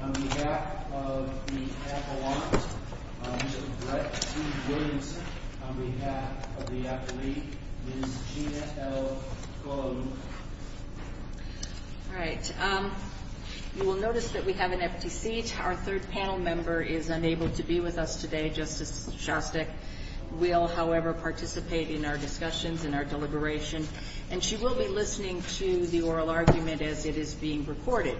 on behalf of the Appellant, Mr. Brett C. Williamson, on behalf of the Appellee, Ms. Gina L. Golojuch. All right. You will notice that we have an empty seat. Our third panel member is unable to be with us today, Justice Shostak will, however, participate in our discussions and our deliberation, and she will be listening to the oral argument as it is being recorded.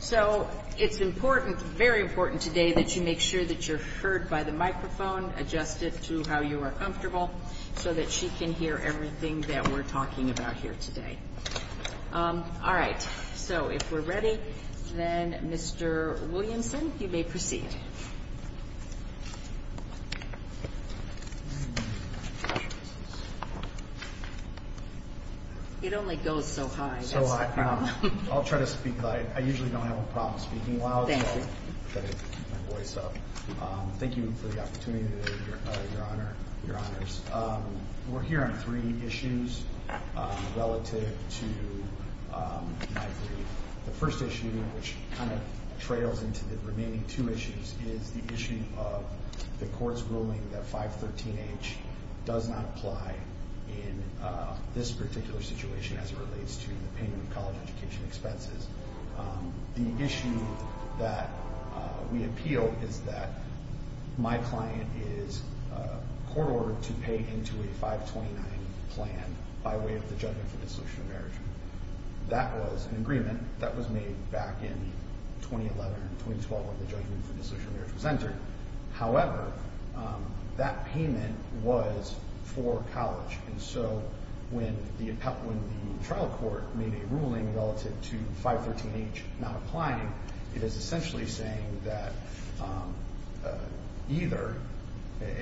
So it's important, very important today, that you make sure that you're heard by the microphone, adjusted to how you are comfortable, so that she can hear everything that we're talking about here today. All right. So if we're ready, then, Mr. Williamson, you may proceed. It only goes so high. So I'll try to speak. I usually don't have a problem speaking loud. Thank you. Thank you for the opportunity today, Your Honor, Your Honors. We're here on three issues relative to 9-3. The first issue, which kind of trails into the remaining two issues, is the issue of the court's ruling that 513H does not apply in this particular situation as it relates to the payment of college education expenses. The issue that we appeal is that my client is court-ordered to pay into a 529 plan by way of the Judgment for Dissolution of Marriage. That was an agreement that was made back in 2011 and 2012 when the Judgment for Dissolution of Marriage was entered. However, that payment was for college. And so when the trial court made a ruling relative to 513H not applying, it is essentially saying that either,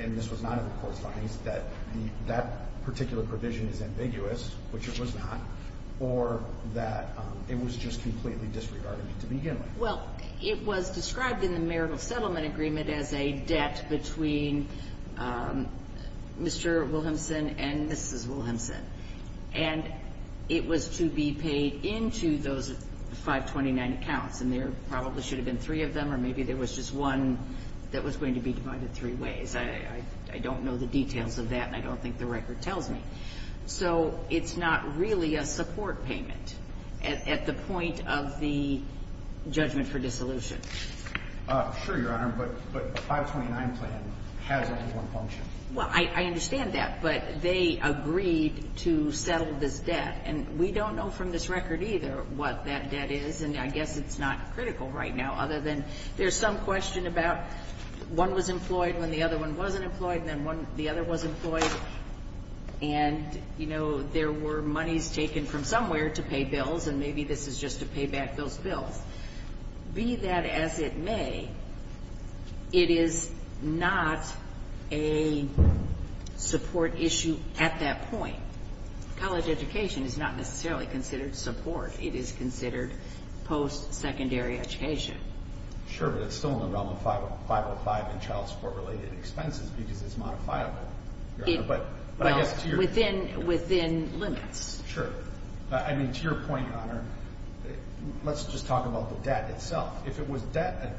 and this was not in the court's findings, that that particular provision is ambiguous, which it was not, or that it was just completely disregarded to begin with. Well, it was described in the marital settlement agreement as a debt between Mr. Wilhelmsen and Mrs. Wilhelmsen. And it was to be paid into those 529 accounts. And there probably should have been three of them, or maybe there was just one that was going to be divided three ways. I don't know the details of that, and I don't think the record tells me. So it's not really a support payment at the point of the Judgment for Dissolution. Sure, Your Honor, but a 529 plan has only one function. Well, I understand that, but they agreed to settle this debt. And we don't know from this record either what that debt is, and I guess it's not critical right now, other than there's some question about one was employed when the other one wasn't employed, and then the other was employed. And, you know, there were monies taken from somewhere to pay bills, and maybe this is just to pay back those bills. Be that as it may, it is not a support issue at that point. College education is not necessarily considered support. It is considered post-secondary education. Sure, but it's still in the realm of 505 and child support-related expenses because it's modifiable. Well, within limits. Sure. I mean, to your point, Your Honor, let's just talk about the debt itself. If it was a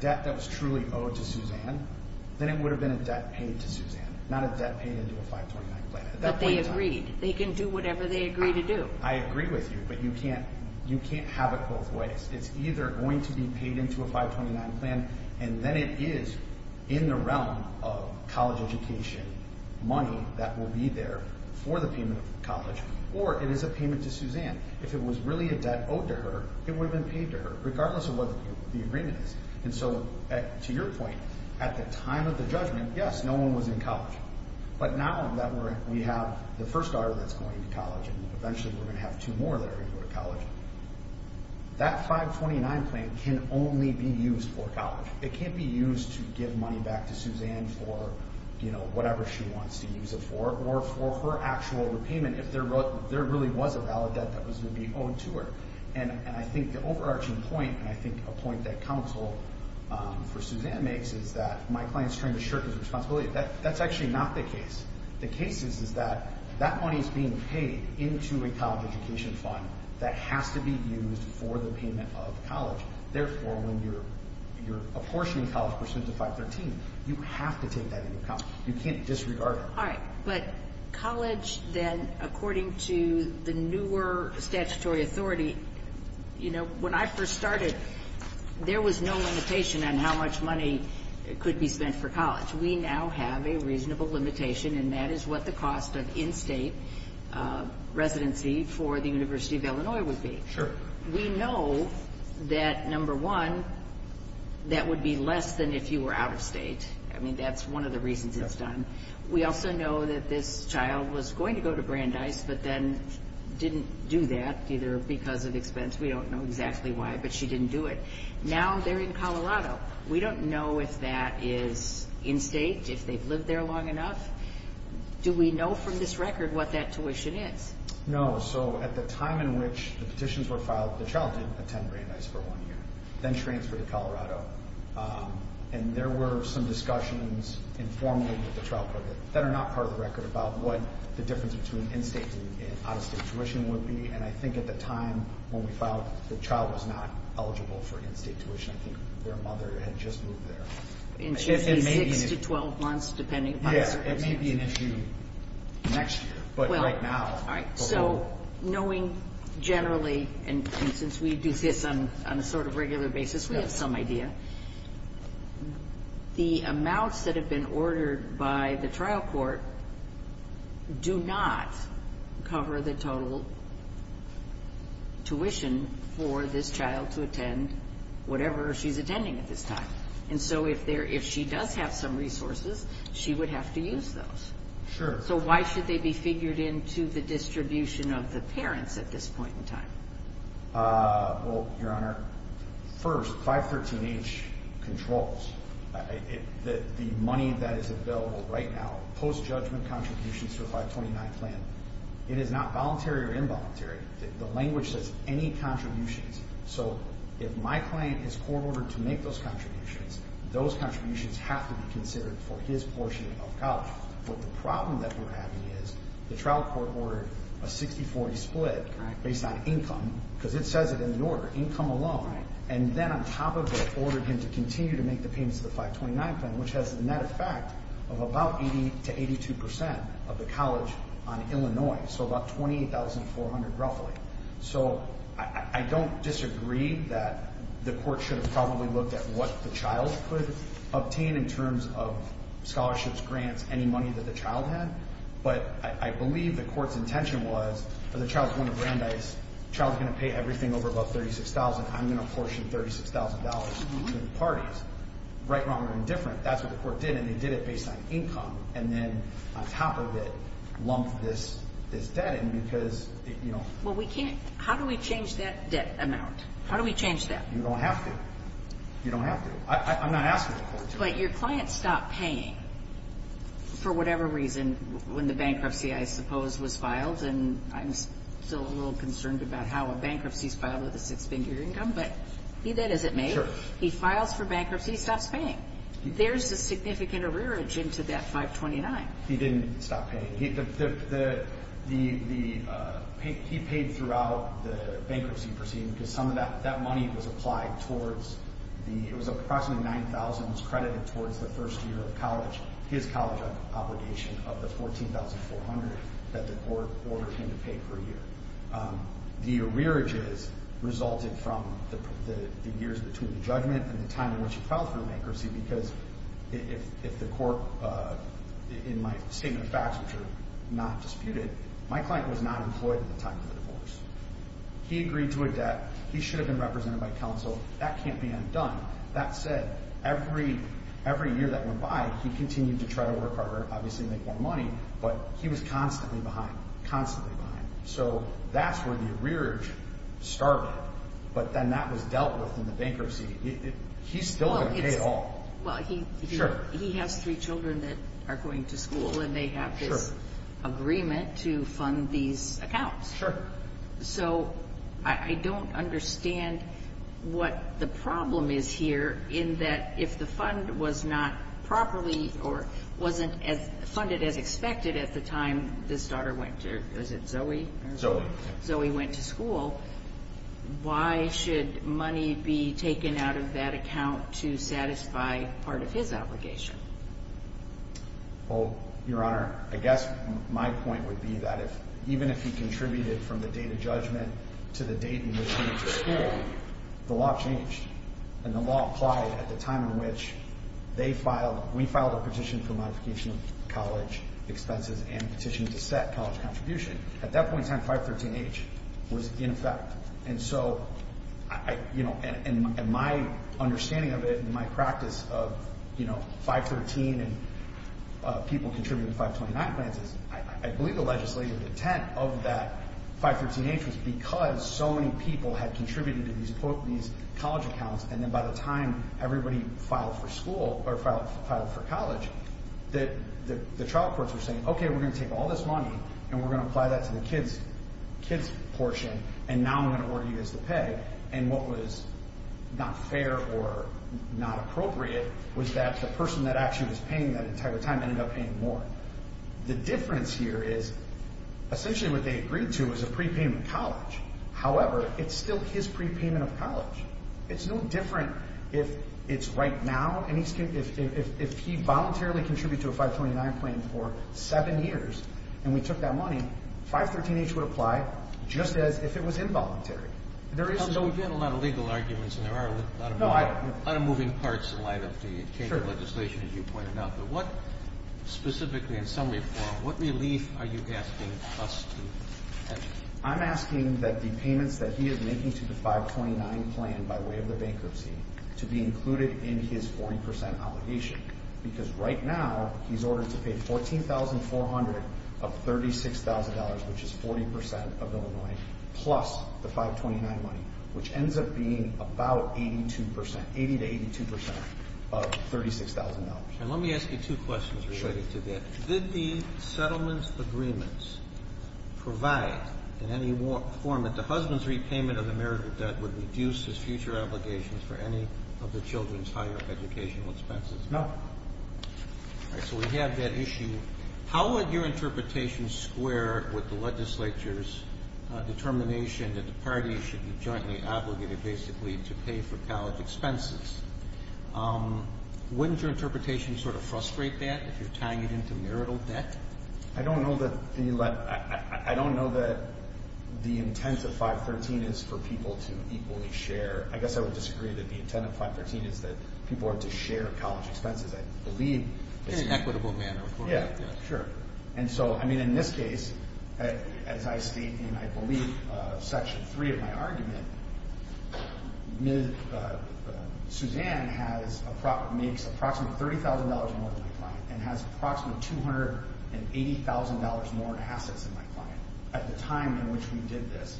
debt that was truly owed to Suzanne, then it would have been a debt paid to Suzanne, not a debt paid into a 529 plan. But they agreed. They can do whatever they agree to do. I agree with you, but you can't have it both ways. It's either going to be paid into a 529 plan, and then it is in the realm of college education money that will be there for the payment of college, or it is a payment to Suzanne. If it was really a debt owed to her, it would have been paid to her, regardless of what the agreement is. And so, to your point, at the time of the judgment, yes, no one was in college. But now that we have the first daughter that's going to college, and eventually we're going to have two more that are going to go to college, that 529 plan can only be used for college. It can't be used to give money back to Suzanne for whatever she wants to use it for, or for her actual repayment if there really was a valid debt that was going to be owed to her. And I think the overarching point, and I think a point that counsel for Suzanne makes, is that my client is trying to shirk his responsibility. That's actually not the case. The case is that that money is being paid into a college education fund that has to be used for the payment of college. Therefore, when you're apportioning college pursuant to 513, you have to take that into account. You can't disregard it. All right. But college, then, according to the newer statutory authority, you know, when I first started, there was no limitation on how much money could be spent for college. We now have a reasonable limitation, and that is what the cost of in-state residency for the University of Illinois would be. Sure. We know that, number one, that would be less than if you were out of state. I mean, that's one of the reasons it's done. We also know that this child was going to go to Brandeis, but then didn't do that, either because of expense. We don't know exactly why, but she didn't do it. Now they're in Colorado. We don't know if that is in-state, if they've lived there long enough. Do we know from this record what that tuition is? No. So at the time in which the petitions were filed, the child didn't attend Brandeis for one year, then transferred to Colorado. And there were some discussions informally with the trial court that are not part of the record about what the difference between in-state and out-of-state tuition would be. And I think at the time when we filed, the child was not eligible for in-state tuition. I think their mother had just moved there. And she'd be 6 to 12 months, depending upon the circumstances. Yes. It may be an issue next year, but right now, the whole — the amounts that have been ordered by the trial court do not cover the total tuition for this child to attend whatever she's attending at this time. And so if she does have some resources, she would have to use those. Sure. So why should they be figured into the distribution of the parents at this point in time? Well, Your Honor, first, 513H controls the money that is available right now, post-judgment contributions to a 529 plan. It is not voluntary or involuntary. The language says any contributions. So if my client has court-ordered to make those contributions, those contributions have to be considered for his portion of college. But the problem that we're having is the trial court ordered a 60-40 split based on income, because it says it in the order, income alone. And then on top of it, ordered him to continue to make the payments of the 529 plan, which has the net effect of about 80 to 82 percent of the college on Illinois. So about $28,400, roughly. So I don't disagree that the court should have probably looked at what the child could obtain in terms of scholarships, grants, any money that the child had. But I believe the court's intention was, if the child's going to Brandeis, the child's going to pay everything over about $36,000. I'm going to apportion $36,000 to the parties. Right, wrong, or indifferent, that's what the court did, and they did it based on income. And then on top of it, lump this debt in because, you know. Well, we can't, how do we change that debt amount? How do we change that? You don't have to. You don't have to. I'm not asking the court to. But your client stopped paying for whatever reason when the bankruptcy, I suppose, was filed. And I'm still a little concerned about how a bankruptcy is filed with a six-figure income, but be that as it may. Sure. He files for bankruptcy, he stops paying. There's a significant arrearage into that 529. He didn't stop paying. He paid throughout the bankruptcy proceeding because some of that money was applied towards the, it was approximately $9,000 was credited towards the first year of college, his college obligation of the $14,400 that the court ordered him to pay per year. The arrearages resulted from the years between the judgment and the time in which he filed for bankruptcy because if the court, in my statement of facts, which are not disputed, my client was not employed at the time of the divorce. He agreed to a debt. He should have been represented by counsel. That can't be undone. That said, every year that went by, he continued to try to work harder, obviously make more money, but he was constantly behind, constantly behind. So that's where the arrearage started, but then that was dealt with in the bankruptcy. He's still going to pay it all. Well, he has three children that are going to school, and they have this agreement to fund these accounts. Sure. So I don't understand what the problem is here in that if the fund was not properly or wasn't funded as expected at the time this daughter went to, is it Zoe? Zoe. Zoe went to school. Why should money be taken out of that account to satisfy part of his obligation? Well, Your Honor, I guess my point would be that even if he contributed from the date of judgment to the date in which he went to school, the law changed, and the law applied at the time in which we filed a petition for modification of college expenses and petitioned to set college contribution. At that point in time, 513-H was in effect. And so, you know, and my understanding of it and my practice of, you know, 513 and people contributing to 529 plans is I believe the legislative intent of that 513-H was because so many people had contributed to these college accounts, and then by the time everybody filed for school or filed for college, the trial courts were saying, okay, we're going to take all this money, and we're going to apply that to the kids portion, and now I'm going to order you guys to pay. And what was not fair or not appropriate was that the person that actually was paying that entire time ended up paying more. The difference here is essentially what they agreed to was a prepayment of college. However, it's still his prepayment of college. It's no different if it's right now, and if he voluntarily contributed to a 529 plan for seven years and we took that money, 513-H would apply just as if it was involuntary. There is no— We've had a lot of legal arguments, and there are a lot of moving parts in light of the change of legislation, as you pointed out. But what specifically, in summary, what relief are you asking us to have? I'm asking that the payments that he is making to the 529 plan by way of the bankruptcy to be included in his 40% obligation because right now he's ordered to pay $14,400 of $36,000, which is 40% of Illinois, plus the 529 money, which ends up being about 82%, 80% to 82% of $36,000. And let me ask you two questions related to that. Sure. Did the settlements agreements provide in any form that the husband's repayment of the marital debt would reduce his future obligations for any of the children's higher educational expenses? No. All right, so we have that issue. How would your interpretation square with the legislature's determination that the parties should be jointly obligated basically to pay for college expenses? Wouldn't your interpretation sort of frustrate that if you're tying it into marital debt? I don't know that the intent of 513 is for people to equally share. I guess I would disagree that the intent of 513 is that people are to share college expenses, I believe. In an equitable manner, of course. Yeah, sure. And so, I mean, in this case, as I state in, I believe, Section 3 of my argument, Suzanne makes approximately $30,000 more than my client and has approximately $280,000 more assets than my client at the time in which we did this.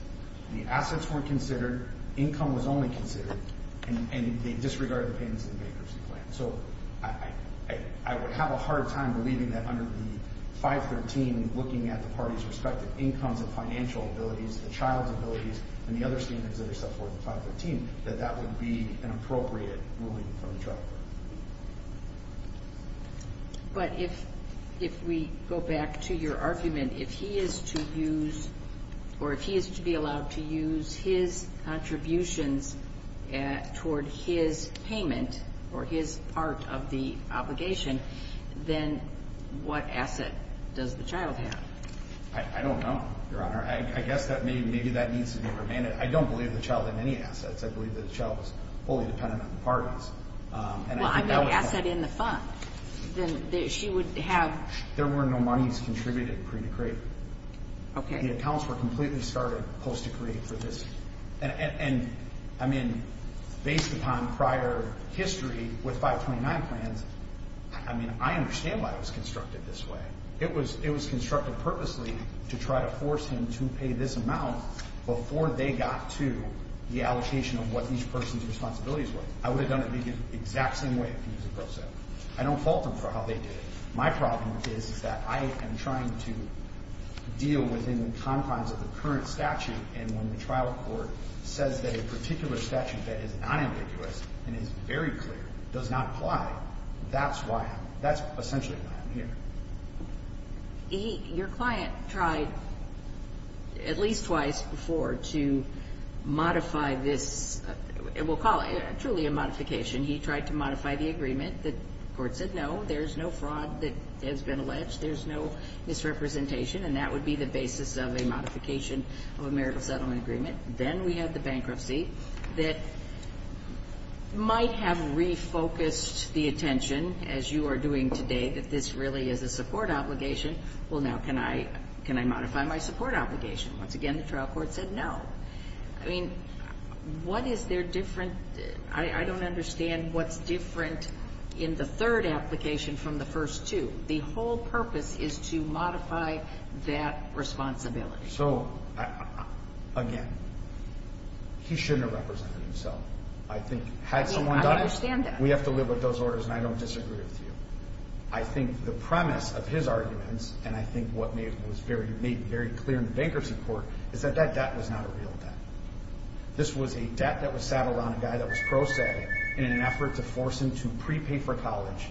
The assets weren't considered, income was only considered, and they disregarded the payments of the bankruptcy plan. So I would have a hard time believing that under the 513, looking at the parties' respective incomes and financial abilities, the child's abilities, and the other statements that are set forth in 513, that that would be an appropriate ruling from the child court. But if we go back to your argument, if he is to use, or if he is to be allowed to use his contributions toward his payment or his part of the obligation, then what asset does the child have? I don't know, Your Honor. I guess that maybe that needs to be remanded. I don't believe the child had any assets. I believe that the child was wholly dependent on the parties. Well, I know asset in the fund. Then she would have? There were no monies contributed pre-decree. Okay. The accounts were completely started post-decree for this. And, I mean, based upon prior history with 529 plans, I mean, I understand why it was constructed this way. It was constructed purposely to try to force him to pay this amount before they got to the allocation of what each person's responsibilities were. I would have done it the exact same way if he was a pro se. I don't fault him for how they did it. My problem is that I am trying to deal within the confines of the current statute, and when the trial court says that a particular statute that is not ambiguous and is very clear does not apply, that's essentially why I'm here. Your client tried at least twice before to modify this. We'll call it truly a modification. He tried to modify the agreement. The court said no. There's no fraud that has been alleged. There's no misrepresentation. And that would be the basis of a modification of a marital settlement agreement. Then we have the bankruptcy that might have refocused the attention, as you are doing today, that this really is a support obligation. Well, now can I modify my support obligation? Once again, the trial court said no. I mean, what is their different? I don't understand what's different in the third application from the first two. The whole purpose is to modify that responsibility. So, again, he shouldn't have represented himself. I mean, I understand that. We have to live with those orders, and I don't disagree with you. I think the premise of his arguments, and I think what was made very clear in the bankruptcy court, is that that debt was not a real debt. This was a debt that was saddled on a guy that was pro se in an effort to force him to prepay for college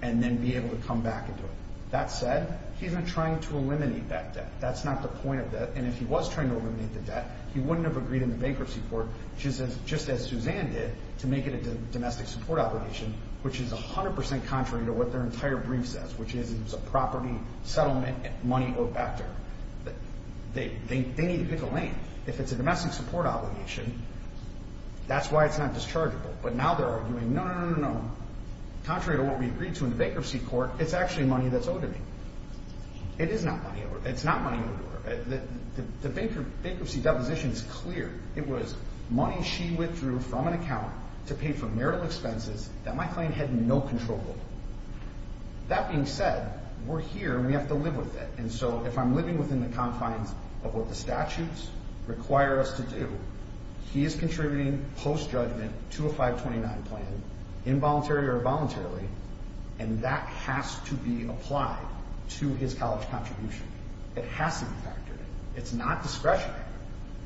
and then be able to come back and do it. That said, he's been trying to eliminate that debt. That's not the point of that. And if he was trying to eliminate the debt, he wouldn't have agreed in the bankruptcy court, just as Suzanne did, to make it a domestic support obligation, which is 100% contrary to what their entire brief says, which is it was a property settlement money owed back to her. They need to pick a lane. If it's a domestic support obligation, that's why it's not dischargeable. But now they're arguing, no, no, no, no, no. Contrary to what we agreed to in the bankruptcy court, it's actually money that's owed to me. It is not money owed to her. It's not money owed to her. The bankruptcy deposition is clear. It was money she withdrew from an account to pay for marital expenses that my claim had no control over. That being said, we're here, and we have to live with it. And so if I'm living within the confines of what the statutes require us to do, he is contributing post-judgment to a 529 plan, involuntary or voluntarily, and that has to be applied to his college contribution. It has to be factored in. It's not discretionary.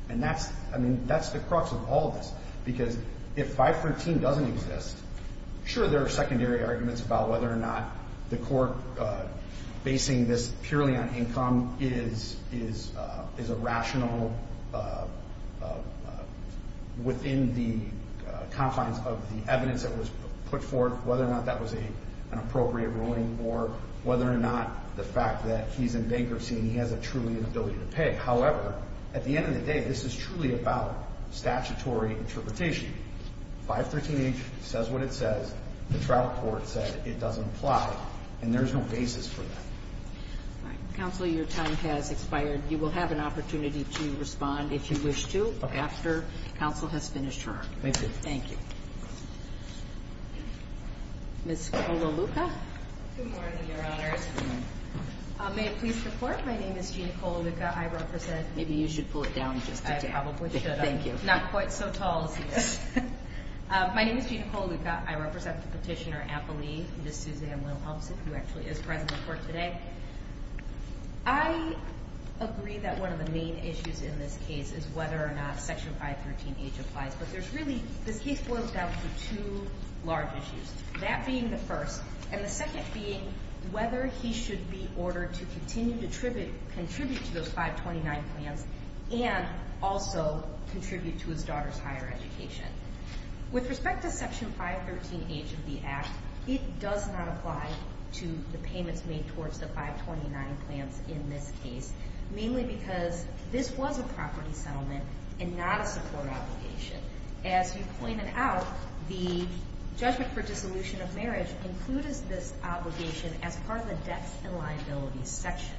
And that's, I mean, that's the crux of all this, because if 513 doesn't exist, sure, there are secondary arguments about whether or not the court basing this purely on income is a rational within the confines of the evidence that was put forth, whether or not that was an appropriate ruling, or whether or not the fact that he's in bankruptcy and he has a truly inability to pay. However, at the end of the day, this is truly about statutory interpretation. 513H says what it says. The trial court said it doesn't apply, and there's no basis for that. All right. Counsel, your time has expired. You will have an opportunity to respond if you wish to after counsel has finished her. Thank you. Thank you. Ms. Colaluca? Good morning, Your Honors. May it please the Court? My name is Gina Colaluca. I represent. Maybe you should pull it down just a tad. I probably should. Thank you. It's not quite so tall, is it? My name is Gina Colaluca. I represent Petitioner Apolli, Ms. Suzanne Wilhelmsen, who actually is present before today. I agree that one of the main issues in this case is whether or not Section 513H applies, but there's really, this case boils down to two large issues, that being the first, and the second being whether he should be ordered to continue to contribute to those 529 plans and also contribute to his daughter's higher education. With respect to Section 513H of the Act, it does not apply to the payments made towards the 529 plans in this case, mainly because this was a property settlement and not a support obligation. As you pointed out, the judgment for dissolution of marriage included this obligation as part of the debts and liabilities section.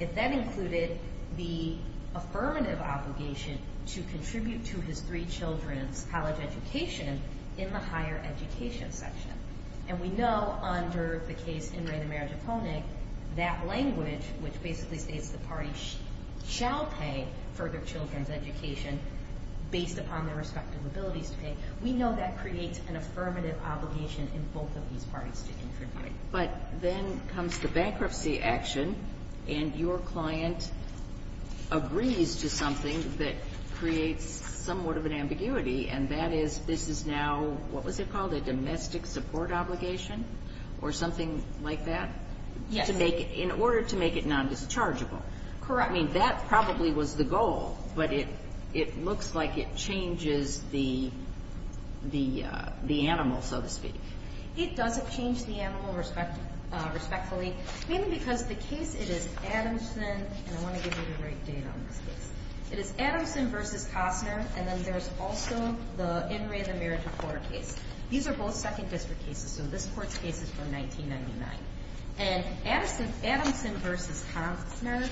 If that included the affirmative obligation to contribute to his three children's college education in the higher education section, and we know under the case In Re De Merit Eponic, that language, which basically states the party shall pay for their children's education based upon their respective abilities to pay, we know that creates an affirmative obligation in both of these parties to contribute. But then comes the bankruptcy action, and your client agrees to something that creates somewhat of an ambiguity, and that is this is now, what was it called, a domestic support obligation or something like that? Yes. In order to make it nondischargeable. Correct. I mean, that probably was the goal, but it looks like it changes the animal, so to speak. It doesn't change the animal respectfully, mainly because the case, it is Adamson, and I want to give you the right data on this case. It is Adamson v. Costner, and then there's also the In Re De Merit Reporter case. These are both Second District cases, so this court's case is from 1999. And Adamson v. Costner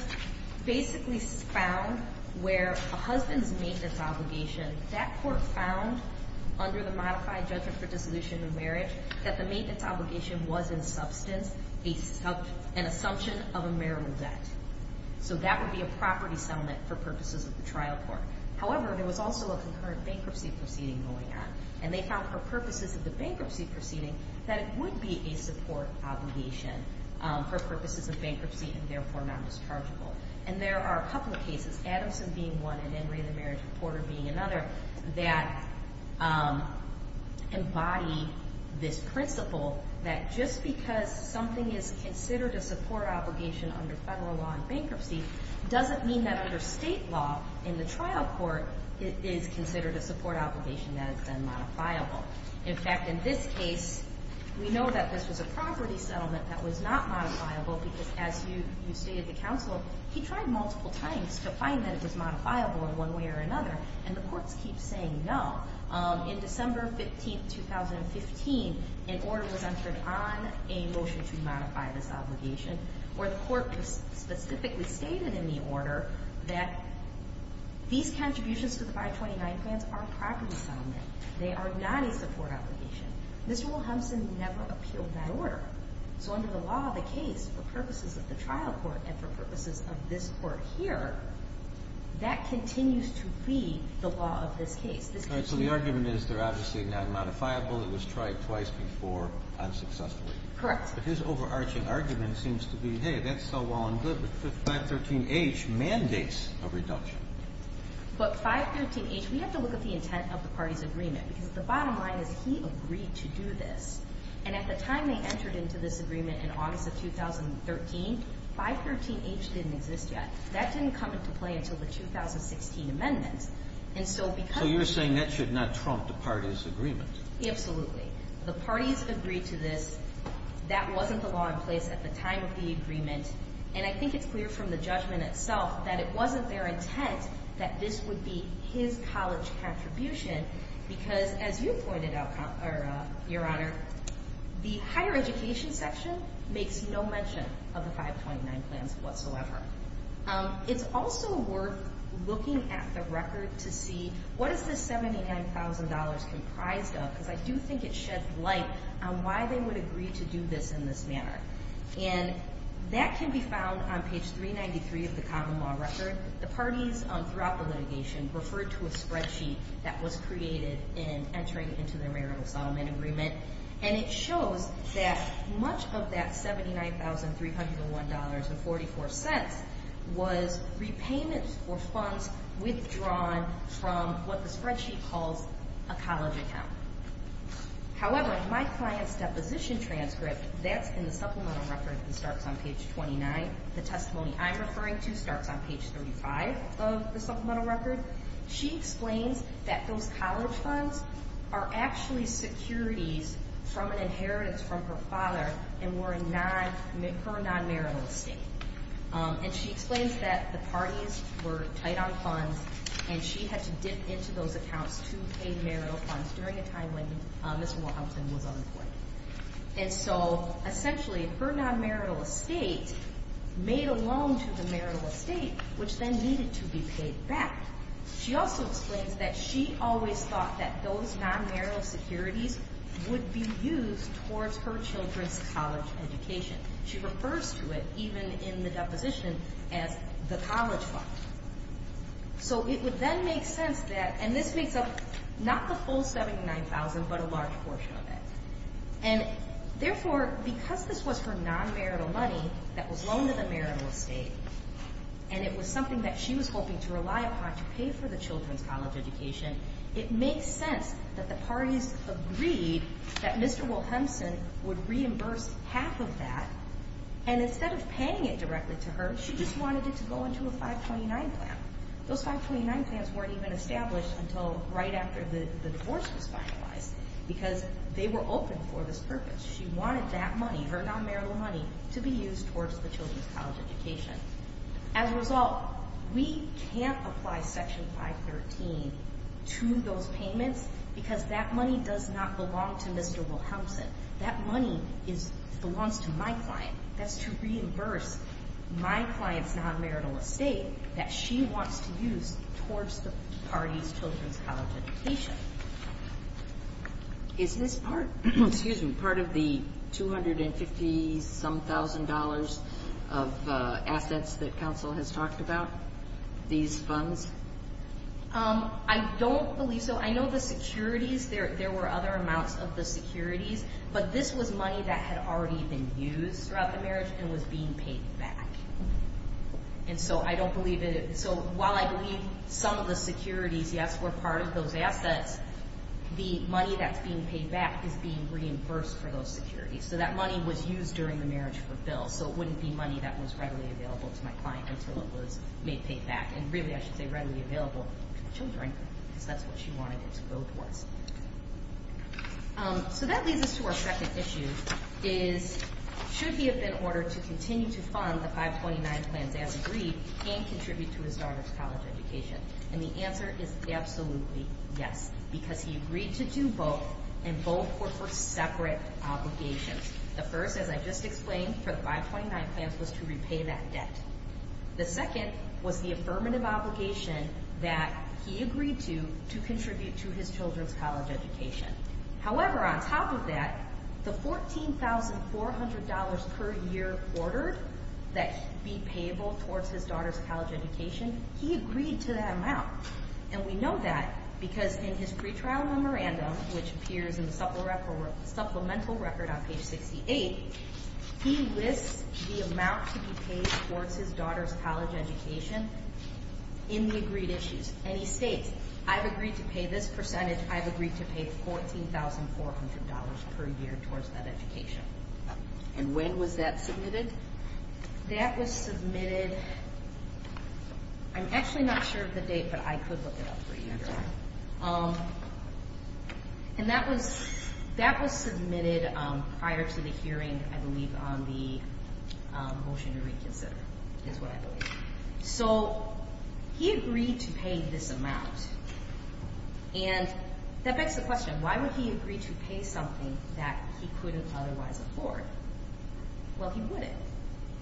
basically found where a husband's maintenance obligation, that court found under the modified judgment for dissolution of marriage that the maintenance obligation was in substance an assumption of a marital debt. So that would be a property settlement for purposes of the trial court. However, there was also a concurrent bankruptcy proceeding going on, and they found for purposes of the bankruptcy proceeding that it would be a support obligation for purposes of bankruptcy and therefore nondischargeable. And there are a couple of cases, Adamson being one and In Re De Merit Reporter being another, that embody this principle that just because something is considered a support obligation under federal law in bankruptcy doesn't mean that under state law in the trial court it is considered a support obligation that has been modifiable. In fact, in this case, we know that this was a property settlement that was not modifiable because as you stated to counsel, he tried multiple times to find that it was modifiable in one way or another, and the courts keep saying no. In December 15, 2015, an order was entered on a motion to modify this obligation where the court specifically stated in the order that these contributions to the 529 plans are a property settlement. They are not a support obligation. So under the law of the case, for purposes of the trial court and for purposes of this court here, that continues to be the law of this case. So the argument is they're obviously not modifiable. It was tried twice before unsuccessfully. Correct. But his overarching argument seems to be, hey, that's so well and good, but 513H mandates a reduction. But 513H, we have to look at the intent of the party's agreement because the bottom line is he agreed to do this. And at the time they entered into this agreement in August of 2013, 513H didn't exist yet. That didn't come into play until the 2016 amendment. And so because of the ---- So you're saying that should not trump the party's agreement. Absolutely. The parties agreed to this. That wasn't the law in place at the time of the agreement. And I think it's clear from the judgment itself that it wasn't their intent that this would be his college contribution because, as you pointed out, Your Honor, the higher education section makes no mention of the 529 plans whatsoever. It's also worth looking at the record to see what is this $79,000 comprised of because I do think it sheds light on why they would agree to do this in this manner. And that can be found on page 393 of the common law record. The parties throughout the litigation referred to a spreadsheet that was created in entering into their marital settlement agreement. And it shows that much of that $79,301.44 was repayments for funds withdrawn from what the spreadsheet calls a college account. However, my client's deposition transcript, that's in the supplemental record, and starts on page 29. The testimony I'm referring to starts on page 35 of the supplemental record. She explains that those college funds are actually securities from an inheritance from her father and were her non-marital estate. And she explains that the parties were tight on funds, and she had to dip into those accounts to pay marital funds during a time when Ms. Wilhelmsen was unemployed. And so, essentially, her non-marital estate made a loan to the marital estate, which then needed to be paid back. She also explains that she always thought that those non-marital securities would be used towards her children's college education. She refers to it, even in the deposition, as the college fund. So it would then make sense that, and this makes up not the full $79,000, but a large portion of it. And therefore, because this was her non-marital money that was loaned to the marital estate, and it was something that she was hoping to rely upon to pay for the children's college education, it makes sense that the parties agreed that Mr. Wilhelmsen would reimburse half of that. And instead of paying it directly to her, she just wanted it to go into a 529 plan. Those 529 plans weren't even established until right after the divorce was finalized, because they were open for this purpose. She wanted that money, her non-marital money, to be used towards the children's college education. As a result, we can't apply Section 513 to those payments, because that money does not belong to Mr. Wilhelmsen. That money belongs to my client. That's to reimburse my client's non-marital estate that she wants to use towards the parties' children's college education. Is this part of the $250-some-thousand of assets that counsel has talked about, these funds? I don't believe so. I know the securities, there were other amounts of the securities, but this was money that had already been used throughout the marriage and was being paid back. And so I don't believe it. So while I believe some of the securities, yes, were part of those assets, the money that's being paid back is being reimbursed for those securities. So that money was used during the marriage for bills, so it wouldn't be money that was readily available to my client until it was made paid back. And really, I should say readily available to the children, because that's what she wanted it to go towards. So that leads us to our second issue, is should he have been ordered to continue to fund the 529 plans as agreed and contribute to his daughter's college education? And the answer is absolutely yes, because he agreed to do both, and both were for separate obligations. The first, as I just explained, for the 529 plans was to repay that debt. The second was the affirmative obligation that he agreed to contribute to his children's college education. However, on top of that, the $14,400 per year order that would be payable towards his daughter's college education, he agreed to that amount. And we know that because in his pretrial memorandum, which appears in the supplemental record on page 68, he lists the amount to be paid towards his daughter's college education in the agreed issues. And he states, I've agreed to pay this percentage. I've agreed to pay $14,400 per year towards that education. And when was that submitted? That was submitted, I'm actually not sure of the date, but I could look it up for you. And that was submitted prior to the hearing, I believe, on the motion to reconsider is what I believe. So he agreed to pay this amount, and that begs the question, why would he agree to pay something that he couldn't otherwise afford? Well, he wouldn't.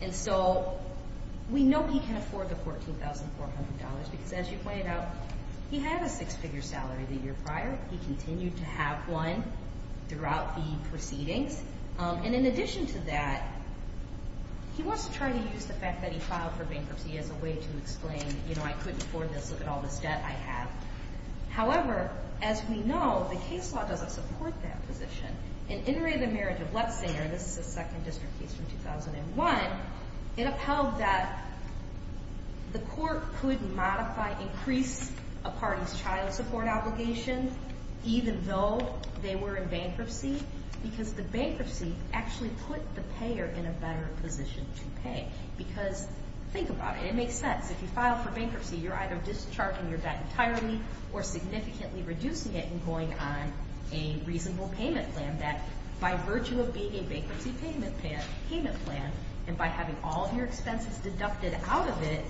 And so we know he can afford the $14,400 because, as you pointed out, he had a six-figure salary the year prior. He continued to have one throughout the proceedings. And in addition to that, he wants to try to use the fact that he filed for bankruptcy as a way to explain, you know, I couldn't afford this, look at all this debt I have. However, as we know, the case law doesn't support that position. In In Re, the Marriage of Letzinger, this is a second district case from 2001, it upheld that the court could modify, increase a party's child support obligation, even though they were in bankruptcy, because the bankruptcy actually put the payer in a better position to pay. Because think about it, it makes sense. If you file for bankruptcy, you're either discharging your debt entirely or significantly reducing it and going on a reasonable payment plan that, by virtue of being a bankruptcy payment plan and by having all of your expenses deducted out of it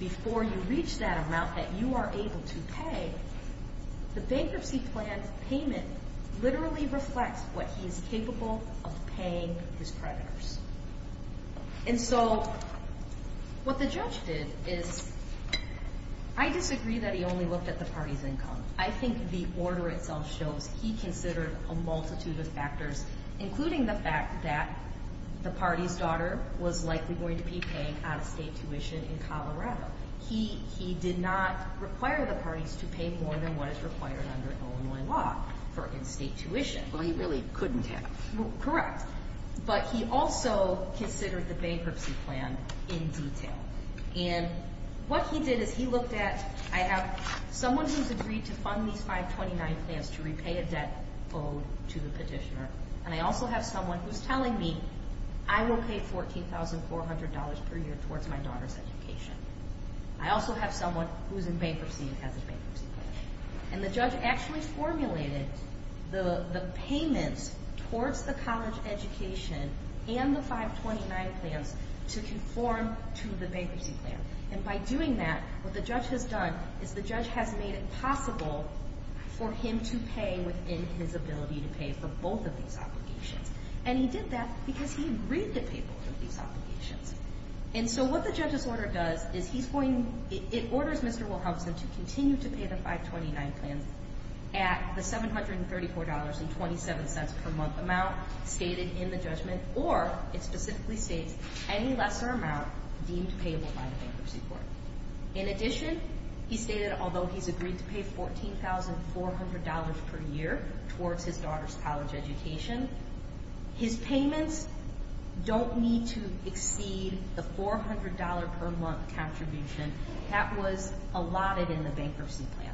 before you reach that amount that you are able to pay, the bankruptcy plan payment literally reflects what he is capable of paying his creditors. And so what the judge did is, I disagree that he only looked at the party's income. I think the order itself shows he considered a multitude of factors, including the fact that the party's daughter was likely going to be paying out-of-state tuition in Colorado. He did not require the parties to pay more than what is required under Illinois law for in-state tuition. Well, he really couldn't have. Correct. But he also considered the bankruptcy plan in detail. And what he did is he looked at, I have someone who's agreed to fund these 529 plans to repay a debt owed to the petitioner, and I also have someone who's telling me I will pay $14,400 per year towards my daughter's education. I also have someone who's in bankruptcy and has a bankruptcy plan. And the judge actually formulated the payments towards the college education and the 529 plans to conform to the bankruptcy plan. And by doing that, what the judge has done is the judge has made it possible for him to pay within his ability to pay for both of these obligations. And he did that because he agreed to pay both of these obligations. And so what the judge's order does is it orders Mr. Wilhelmsen to continue to pay the 529 plans at the $734.27 per month amount stated in the judgment, or, it specifically states, any lesser amount deemed payable by the bankruptcy court. In addition, he stated although he's agreed to pay $14,400 per year towards his daughter's college education, his payments don't need to exceed the $400 per month contribution that was allotted in the bankruptcy plan.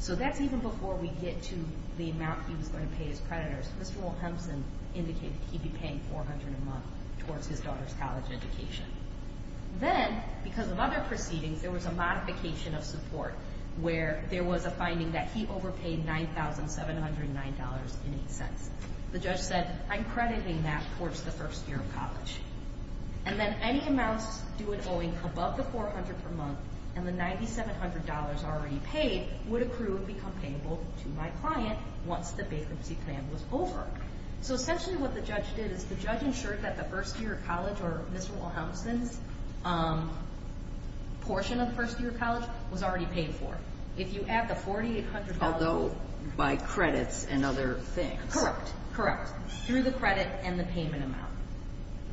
So that's even before we get to the amount he was going to pay his creditors. Mr. Wilhelmsen indicated he'd be paying $400 a month towards his daughter's college education. Then, because of other proceedings, there was a modification of support where there was a finding that he overpaid $9,709.08. The judge said, I'm crediting that towards the first year of college. And then any amounts due and owing above the $400 per month and the $9,700 already paid would accrue and become payable to my client once the bankruptcy plan was over. So essentially what the judge did is the judge ensured that the first year of college, or Mr. Wilhelmsen's portion of the first year of college, was already paid for. Although by credits and other things. Correct, correct. Through the credit and the payment amount.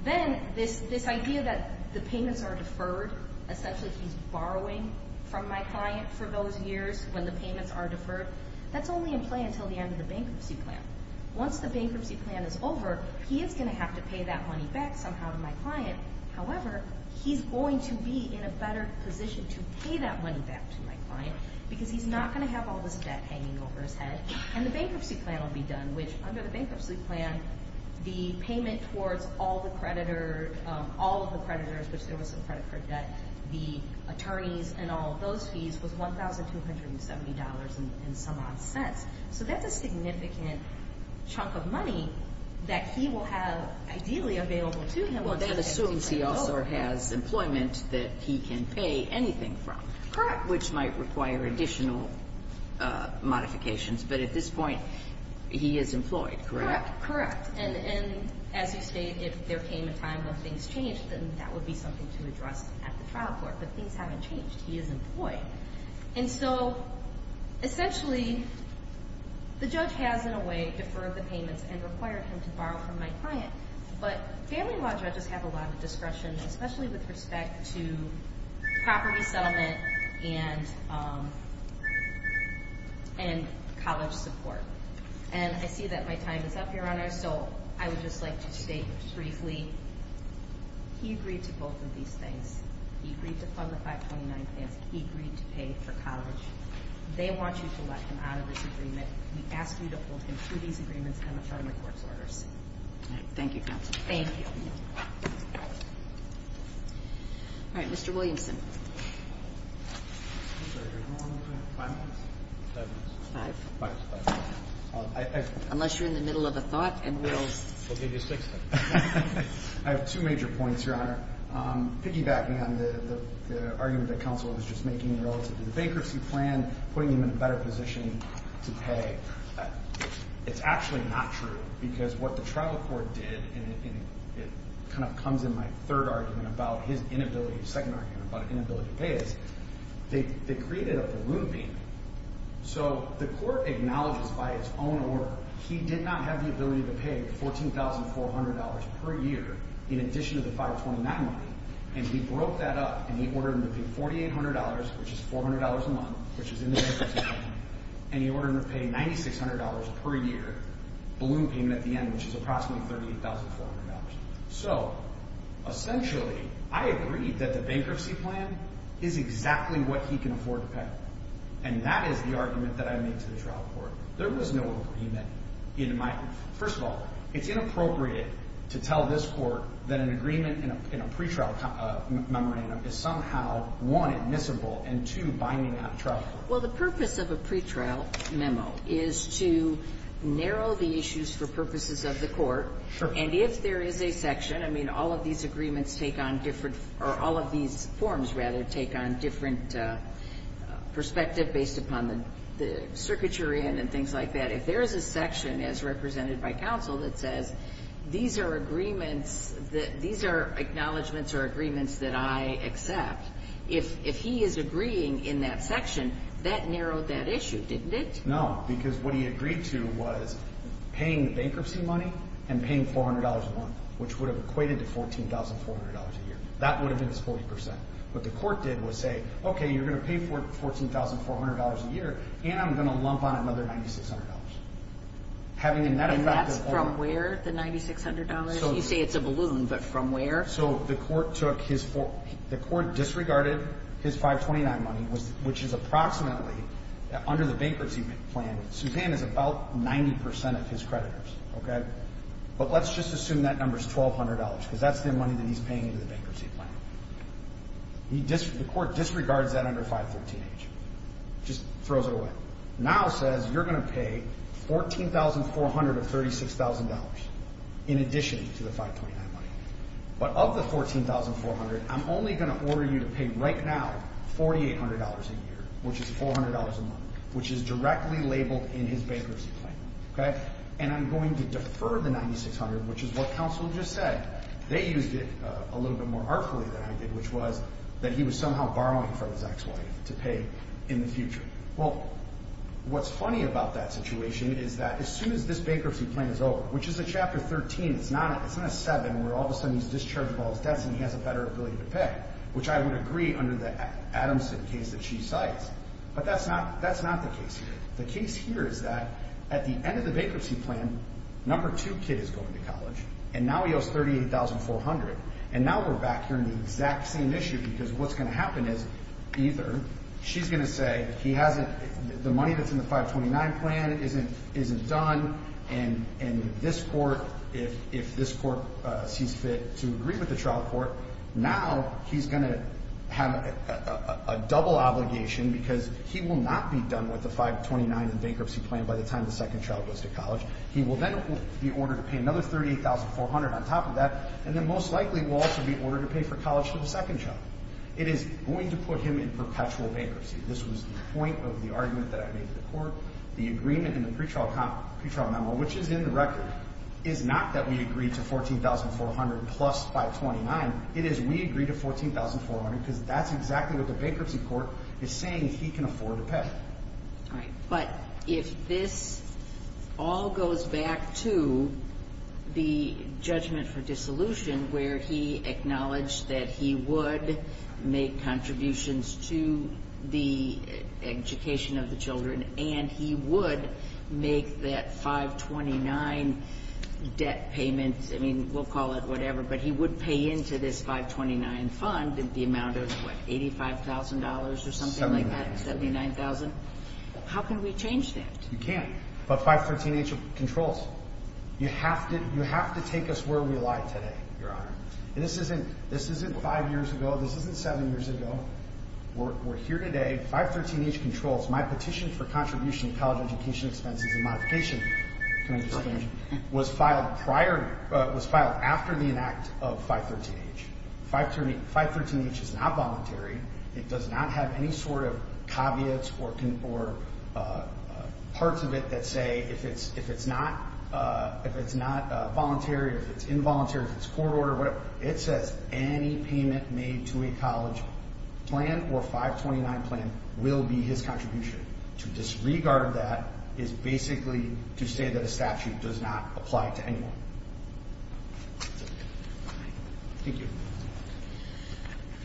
Then this idea that the payments are deferred, essentially he's borrowing from my client for those years when the payments are deferred, that's only in play until the end of the bankruptcy plan. Once the bankruptcy plan is over, he is going to have to pay that money back somehow to my client. However, he's going to be in a better position to pay that money back to my client because he's not going to have all this debt hanging over his head. And the bankruptcy plan will be done, which under the bankruptcy plan, the payment towards all of the creditors, which there was some credit for debt, the attorneys and all of those fees, was $1,270 and some odd cents. So that's a significant chunk of money that he will have ideally available to him. Well, that assumes he also has employment that he can pay anything from, which might require additional modifications. But at this point, he is employed, correct? Correct. And as you stated, if there came a time when things changed, then that would be something to address at the trial court. But things haven't changed. He is employed. And so, essentially, the judge has in a way deferred the payments and required him to borrow from my client. But family law judges have a lot of discretion, especially with respect to property settlement and college support. And I see that my time is up, Your Honor. So I would just like to state briefly, he agreed to both of these things. He agreed to fund the 529 plans. He agreed to pay for college. They want you to let him out of this agreement. But we ask you to hold him to these agreements and the Charter of Courts orders. Thank you, Counsel. Thank you. All right, Mr. Williamson. Unless you're in the middle of a thought, and we'll give you six minutes. I have two major points, Your Honor. Piggybacking on the argument that Counsel was just making relative to the bankruptcy plan, putting him in a better position to pay, it's actually not true. Because what the trial court did, and it kind of comes in my third argument about his inability, second argument about his inability to pay, is they created a balloon payment. So the court acknowledges by its own order he did not have the ability to pay $14,400 per year in addition to the 529 money. And he broke that up and he ordered him to pay $4,800, which is $400 a month, which is in the bankruptcy plan. And he ordered him to pay $9,600 per year balloon payment at the end, which is approximately $38,400. So essentially, I agree that the bankruptcy plan is exactly what he can afford to pay. And that is the argument that I made to the trial court. There was no agreement in my – first of all, it's inappropriate to tell this court that an agreement in a pretrial memorandum is somehow, one, admissible, and two, binding on a trial court. Well, the purpose of a pretrial memo is to narrow the issues for purposes of the court. Sure. And if there is a section – I mean, all of these agreements take on different – or all of these forms, rather, take on different perspective based upon the circuitry and things like that. If there is a section, as represented by counsel, that says these are agreements – these are acknowledgments or agreements that I accept, if he is agreeing in that section, that narrowed that issue, didn't it? No, because what he agreed to was paying the bankruptcy money and paying $400 a month, which would have equated to $14,400 a year. That would have been his 40%. What the court did was say, okay, you're going to pay $14,400 a year, and I'm going to lump on another $9,600. And that's from where, the $9,600? You say it's a balloon, but from where? So the court took his – the court disregarded his 529 money, which is approximately – under the bankruptcy plan, Supan is about 90% of his creditors, okay? But let's just assume that number is $1,200 because that's the money that he's paying in the bankruptcy plan. The court disregards that under 513H, just throws it away. Now says you're going to pay $14,400 of $36,000 in addition to the 529 money. But of the $14,400, I'm only going to order you to pay right now $4,800 a year, which is $400 a month, which is directly labeled in his bankruptcy plan, okay? And I'm going to defer the $9,600, which is what counsel just said. They used it a little bit more artfully than I did, which was that he was somehow borrowing from his ex-wife to pay in the future. Well, what's funny about that situation is that as soon as this bankruptcy plan is over, which is a Chapter 13. It's not a – it's not a 7 where all of a sudden he's discharged while he's dead and he has a better ability to pay, which I would agree under the Adamson case that she cites. But that's not – that's not the case here. The case here is that at the end of the bankruptcy plan, number two kid is going to college, and now he owes $38,400. And now we're back here in the exact same issue because what's going to happen is either she's going to say he hasn't – the money that's in the 529 plan isn't done. And this court, if this court sees fit to agree with the trial court, now he's going to have a double obligation because he will not be done with the 529 bankruptcy plan by the time the second child goes to college. He will then be ordered to pay another $38,400 on top of that, and then most likely will also be ordered to pay for college to the second child. It is going to put him in perpetual bankruptcy. This was the point of the argument that I made to the court. The agreement in the pretrial memo, which is in the record, is not that we agree to $14,400 plus 529. It is we agree to $14,400 because that's exactly what the bankruptcy court is saying he can afford to pay. All right. But if this all goes back to the judgment for dissolution where he acknowledged that he would make contributions to the education of the children and he would make that 529 debt payment – I mean, we'll call it whatever, but he would pay into this 529 fund the amount of, what, $85,000 or something like that? How can we change that? You can't. But 513H controls. You have to take us where we lie today, Your Honor. This isn't five years ago. This isn't seven years ago. We're here today. 513H controls. My petition for contribution to college education expenses and modification was filed after the enact of 513H. 513H is not voluntary. It does not have any sort of caveats or parts of it that say if it's not voluntary, if it's involuntary, if it's court order, whatever. It says any payment made to a college plan or 529 plan will be his contribution. To disregard that is basically to say that a statute does not apply to anyone. Thank you.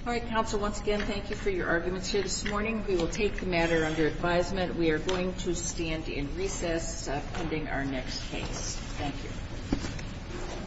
All right, counsel, once again, thank you for your arguments here this morning. We will take the matter under advisement. We are going to stand in recess pending our next case. Thank you.